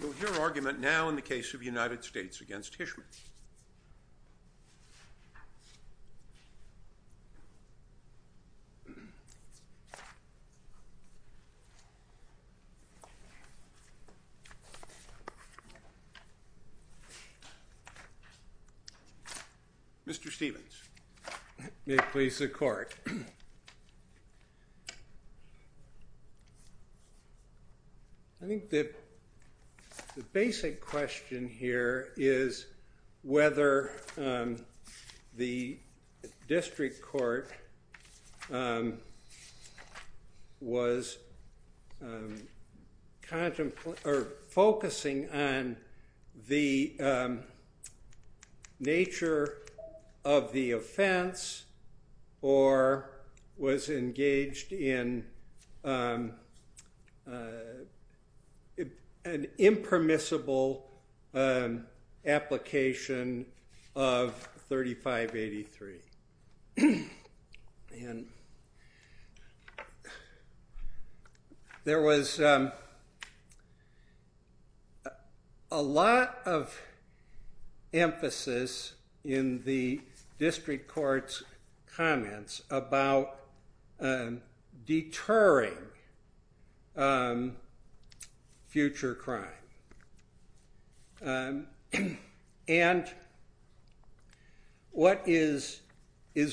We'll hear argument now in the case of United States v. Hibshman. Mr. Stephens, may it please the Court. I think the basic question here is whether the district court was focusing on the nature of the offense or was engaged in an impermissible application of 3583. And there was a lot of emphasis in the district court's comments about deterring future crime. And what is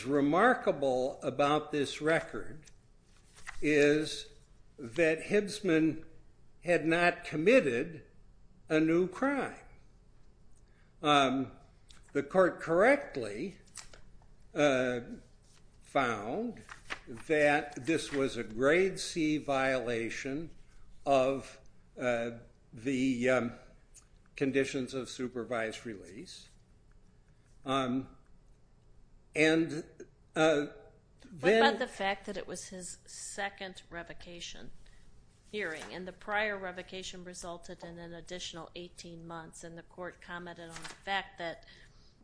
remarkable about this record is that Hibshman had not committed a new crime. The court correctly found that this was a grade C violation of the conditions of supervised release. What about the fact that it was his second revocation hearing, and the prior revocation resulted in an additional 18 months, and the court commented on the fact that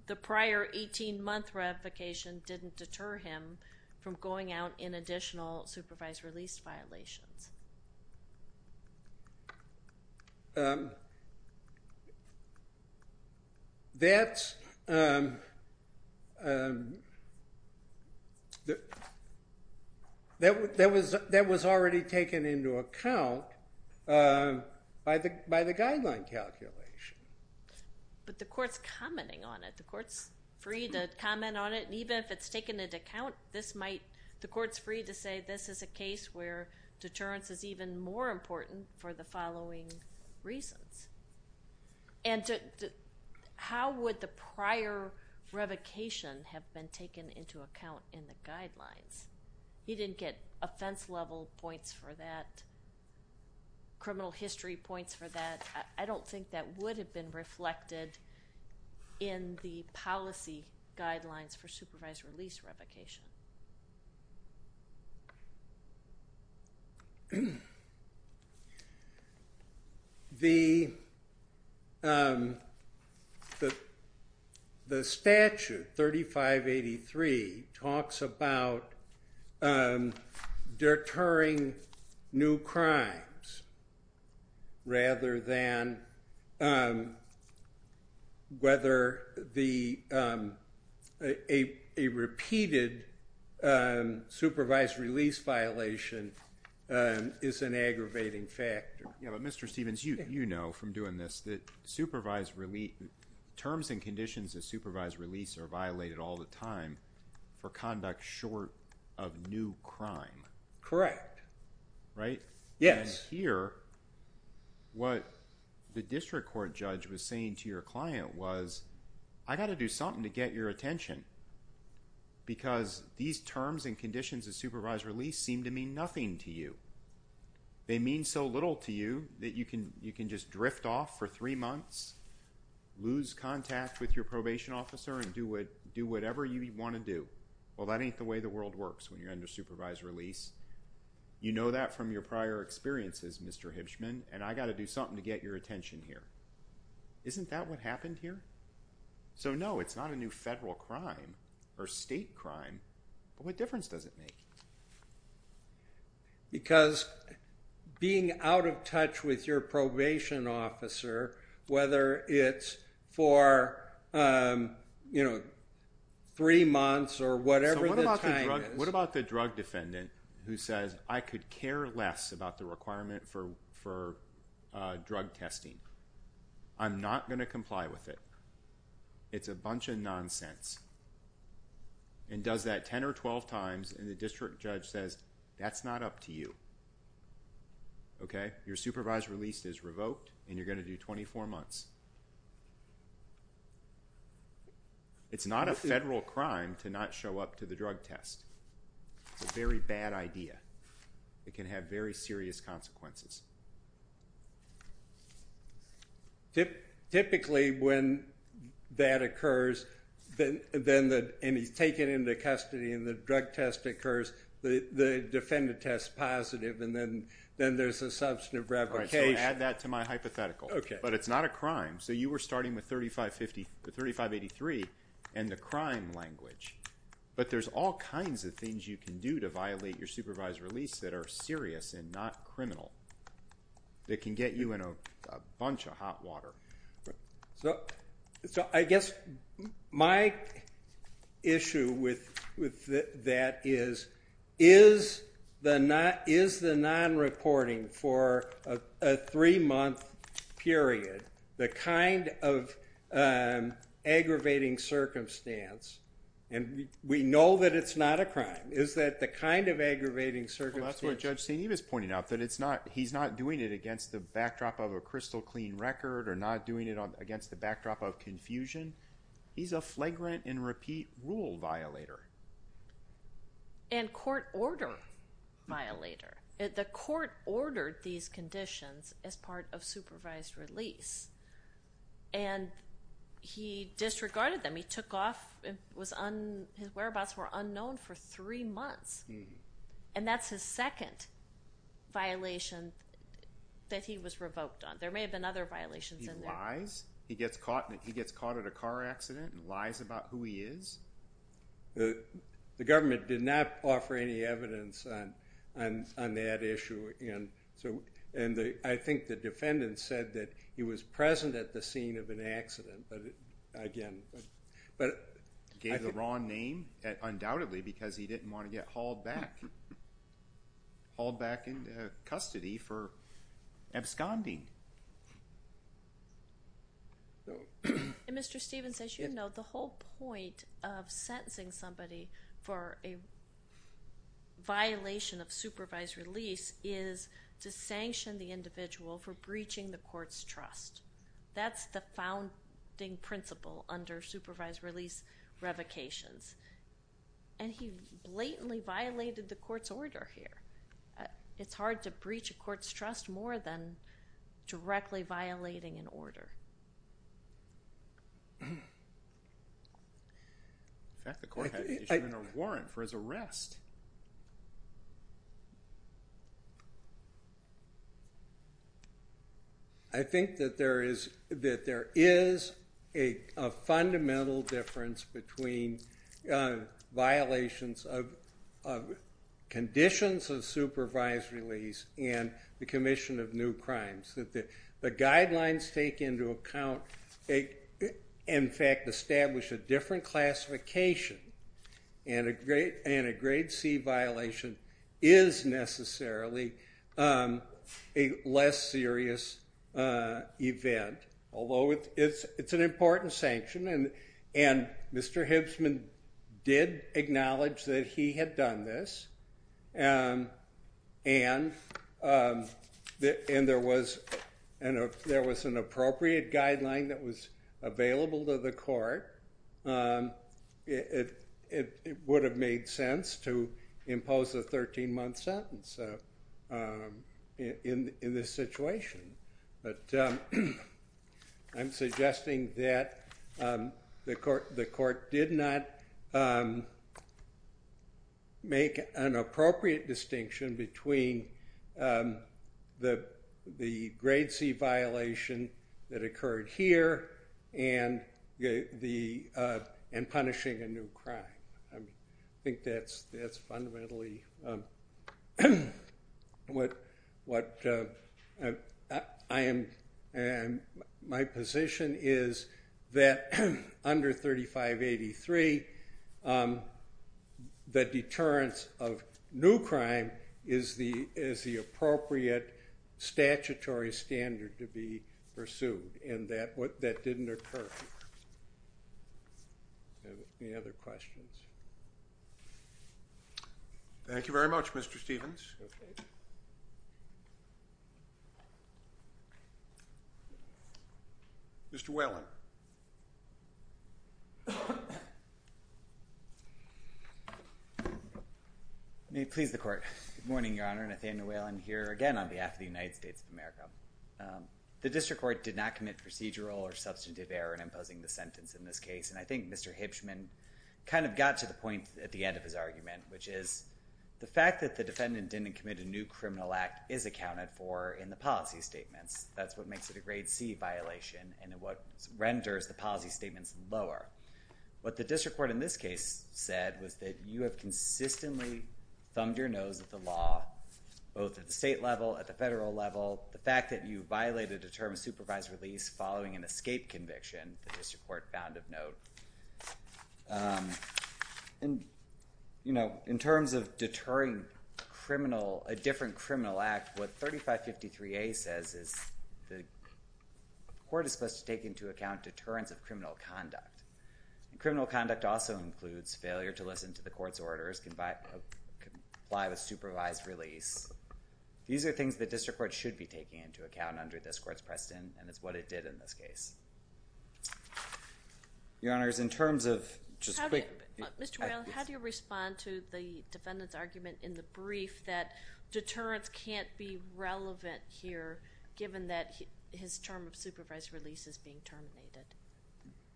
the prior 18-month revocation didn't deter him from going out in additional supervised release violations? That was already taken into account by the guideline calculation. But the court's commenting on it. The court's free to comment on it, and even if it's taken into account, the court's free to say this is a case where deterrence is even more important for the following reasons. How would the prior revocation have been taken into account in the guidelines? He didn't get offense-level points for that, criminal history points for that. I don't think that would have been reflected in the policy guidelines for supervised release revocation. The statute, 3583, talks about deterring new crimes, rather than whether a repeated supervised release violation is an aggravating factor. Yeah, but Mr. Stevens, you know from doing this that terms and conditions of supervised release are violated all the time for conduct short of new crime. Correct. Right? Yes. And here, what the district court judge was saying to your client was, I've got to do something to get your attention because these terms and conditions of supervised release seem to mean nothing to you. They mean so little to you that you can just drift off for three months, lose contact with your probation officer, and do whatever you want to do. Well, that ain't the way the world works when you're under supervised release. You know that from your prior experiences, Mr. Hibschman, and I've got to do something to get your attention here. Isn't that what happened here? So, no, it's not a new federal crime or state crime, but what difference does it make? Because being out of touch with your probation officer, whether it's for, you know, three months or whatever the time is. What about the drug defendant who says, I could care less about the requirement for drug testing? I'm not going to comply with it. It's a bunch of nonsense. And does that 10 or 12 times, and the district judge says, that's not up to you. Okay? Your supervised release is revoked, and you're going to do 24 months. It's not a federal crime to not show up to the drug test. It's a very bad idea. It can have very serious consequences. Typically, when that occurs, and he's taken into custody, and the drug test occurs, the defendant tests positive, and then there's a substantive revocation. All right. So I add that to my hypothetical. Okay. But it's not a crime. So you were starting with 3583 and the crime language. But there's all kinds of things you can do to violate your supervised release that are serious and not criminal, that can get you in a bunch of hot water. So I guess my issue with that is, is the non-reporting for a three-month period the kind of aggravating circumstance? And we know that it's not a crime. Is that the kind of aggravating circumstance? Well, that's what Judge St. Eve is pointing out, that he's not doing it against the backdrop of a crystal clean record or not doing it against the backdrop of confusion. He's a flagrant and repeat rule violator. And court order violator. The court ordered these conditions as part of supervised release. And he disregarded them. He took off. His whereabouts were unknown for three months. And that's his second violation that he was revoked on. There may have been other violations in there. He lies? He gets caught in a car accident and lies about who he is? The government did not offer any evidence on that issue. And I think the defendant said that he was present at the scene of an accident. He gave the wrong name, undoubtedly, because he didn't want to get hauled back. Hauled back into custody for absconding. Mr. Stevens, as you know, the whole point of sentencing somebody for a violation of supervised release is to sanction the individual for breaching the court's trust. That's the founding principle under supervised release revocations. And he blatantly violated the court's order here. It's hard to breach a court's trust more than directly violating an order. In fact, the court had issued a warrant for his arrest. I think that there is a fundamental difference between violations of conditions of supervised release and the commission of new crimes. The guidelines take into account, in fact, establish a different classification. And a grade C violation is necessarily a less serious event. Although it's an important sanction. And Mr. Hibsman did acknowledge that he had done this. And there was an appropriate guideline that was available to the court. It would have made sense to impose a 13-month sentence in this situation. But I'm suggesting that the court did not make an appropriate distinction between the grade C violation that occurred here and punishing a new crime. I think that's fundamentally what I am... My position is that under 3583, the deterrence of new crime is the appropriate statutory standard to be pursued. And that didn't occur. Any other questions? Thank you very much, Mr. Stevens. Mr. Whalen. May it please the court. Good morning, Your Honor. Nathaniel Whalen here again on behalf of the United States of America. The district court did not commit procedural or substantive error in imposing the sentence in this case. And I think Mr. Hibsman kind of got to the point at the end of his argument, which is the fact that the defendant didn't commit a new criminal act is accounted for in the policy statements. That's what makes it a grade C violation and what renders the policy statements lower. What the district court in this case said was that you have consistently thumbed your nose at the law, both at the state level, at the federal level. The fact that you violated a term of supervised release following an escape conviction, the district court found of note. And, you know, in terms of deterring a different criminal act, what 3553A says is the court is supposed to take into account deterrence of criminal conduct. And criminal conduct also includes failure to listen to the court's orders, comply with supervised release. These are things the district court should be taking into account under this court's precedent, and it's what it did in this case. Your Honors, in terms of just quick… Mr. Whalen, how do you respond to the defendant's argument in the brief that deterrence can't be relevant here, given that his term of supervised release is being terminated?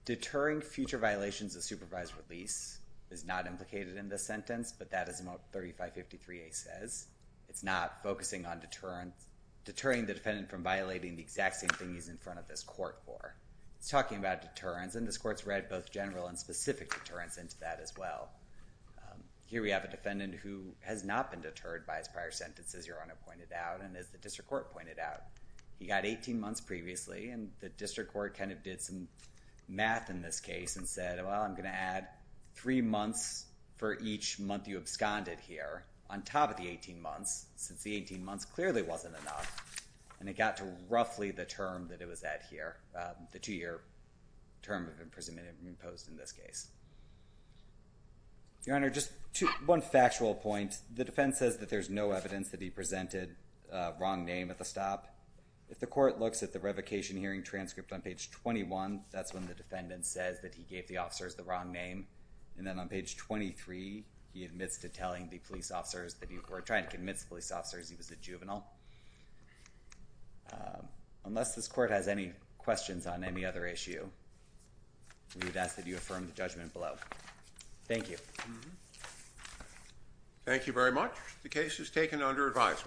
Deterring future violations of supervised release is not implicated in this sentence, but that is what 3553A says. It's not focusing on deterring the defendant from violating the exact same thing he's in front of this court for. It's talking about deterrence, and this court's read both general and specific deterrence into that as well. Here we have a defendant who has not been deterred by his prior sentence, as Your Honor pointed out and as the district court pointed out. He got 18 months previously, and the district court kind of did some math in this case and said, well, I'm going to add three months for each month you absconded here on top of the 18 months, since the 18 months clearly wasn't enough, and it got to roughly the term that it was at here, the two-year term of imprisonment imposed in this case. Your Honor, just one factual point. The defense says that there's no evidence that he presented a wrong name at the stop. If the court looks at the revocation hearing transcript on page 21, that's when the defendant says that he gave the officers the wrong name, and then on page 23, he admits to telling the police officers that he was trying to convince the police officers he was a juvenile. Unless this court has any questions on any other issue, we would ask that you affirm the judgment below. Thank you. Thank you very much. The case is taken under advisement.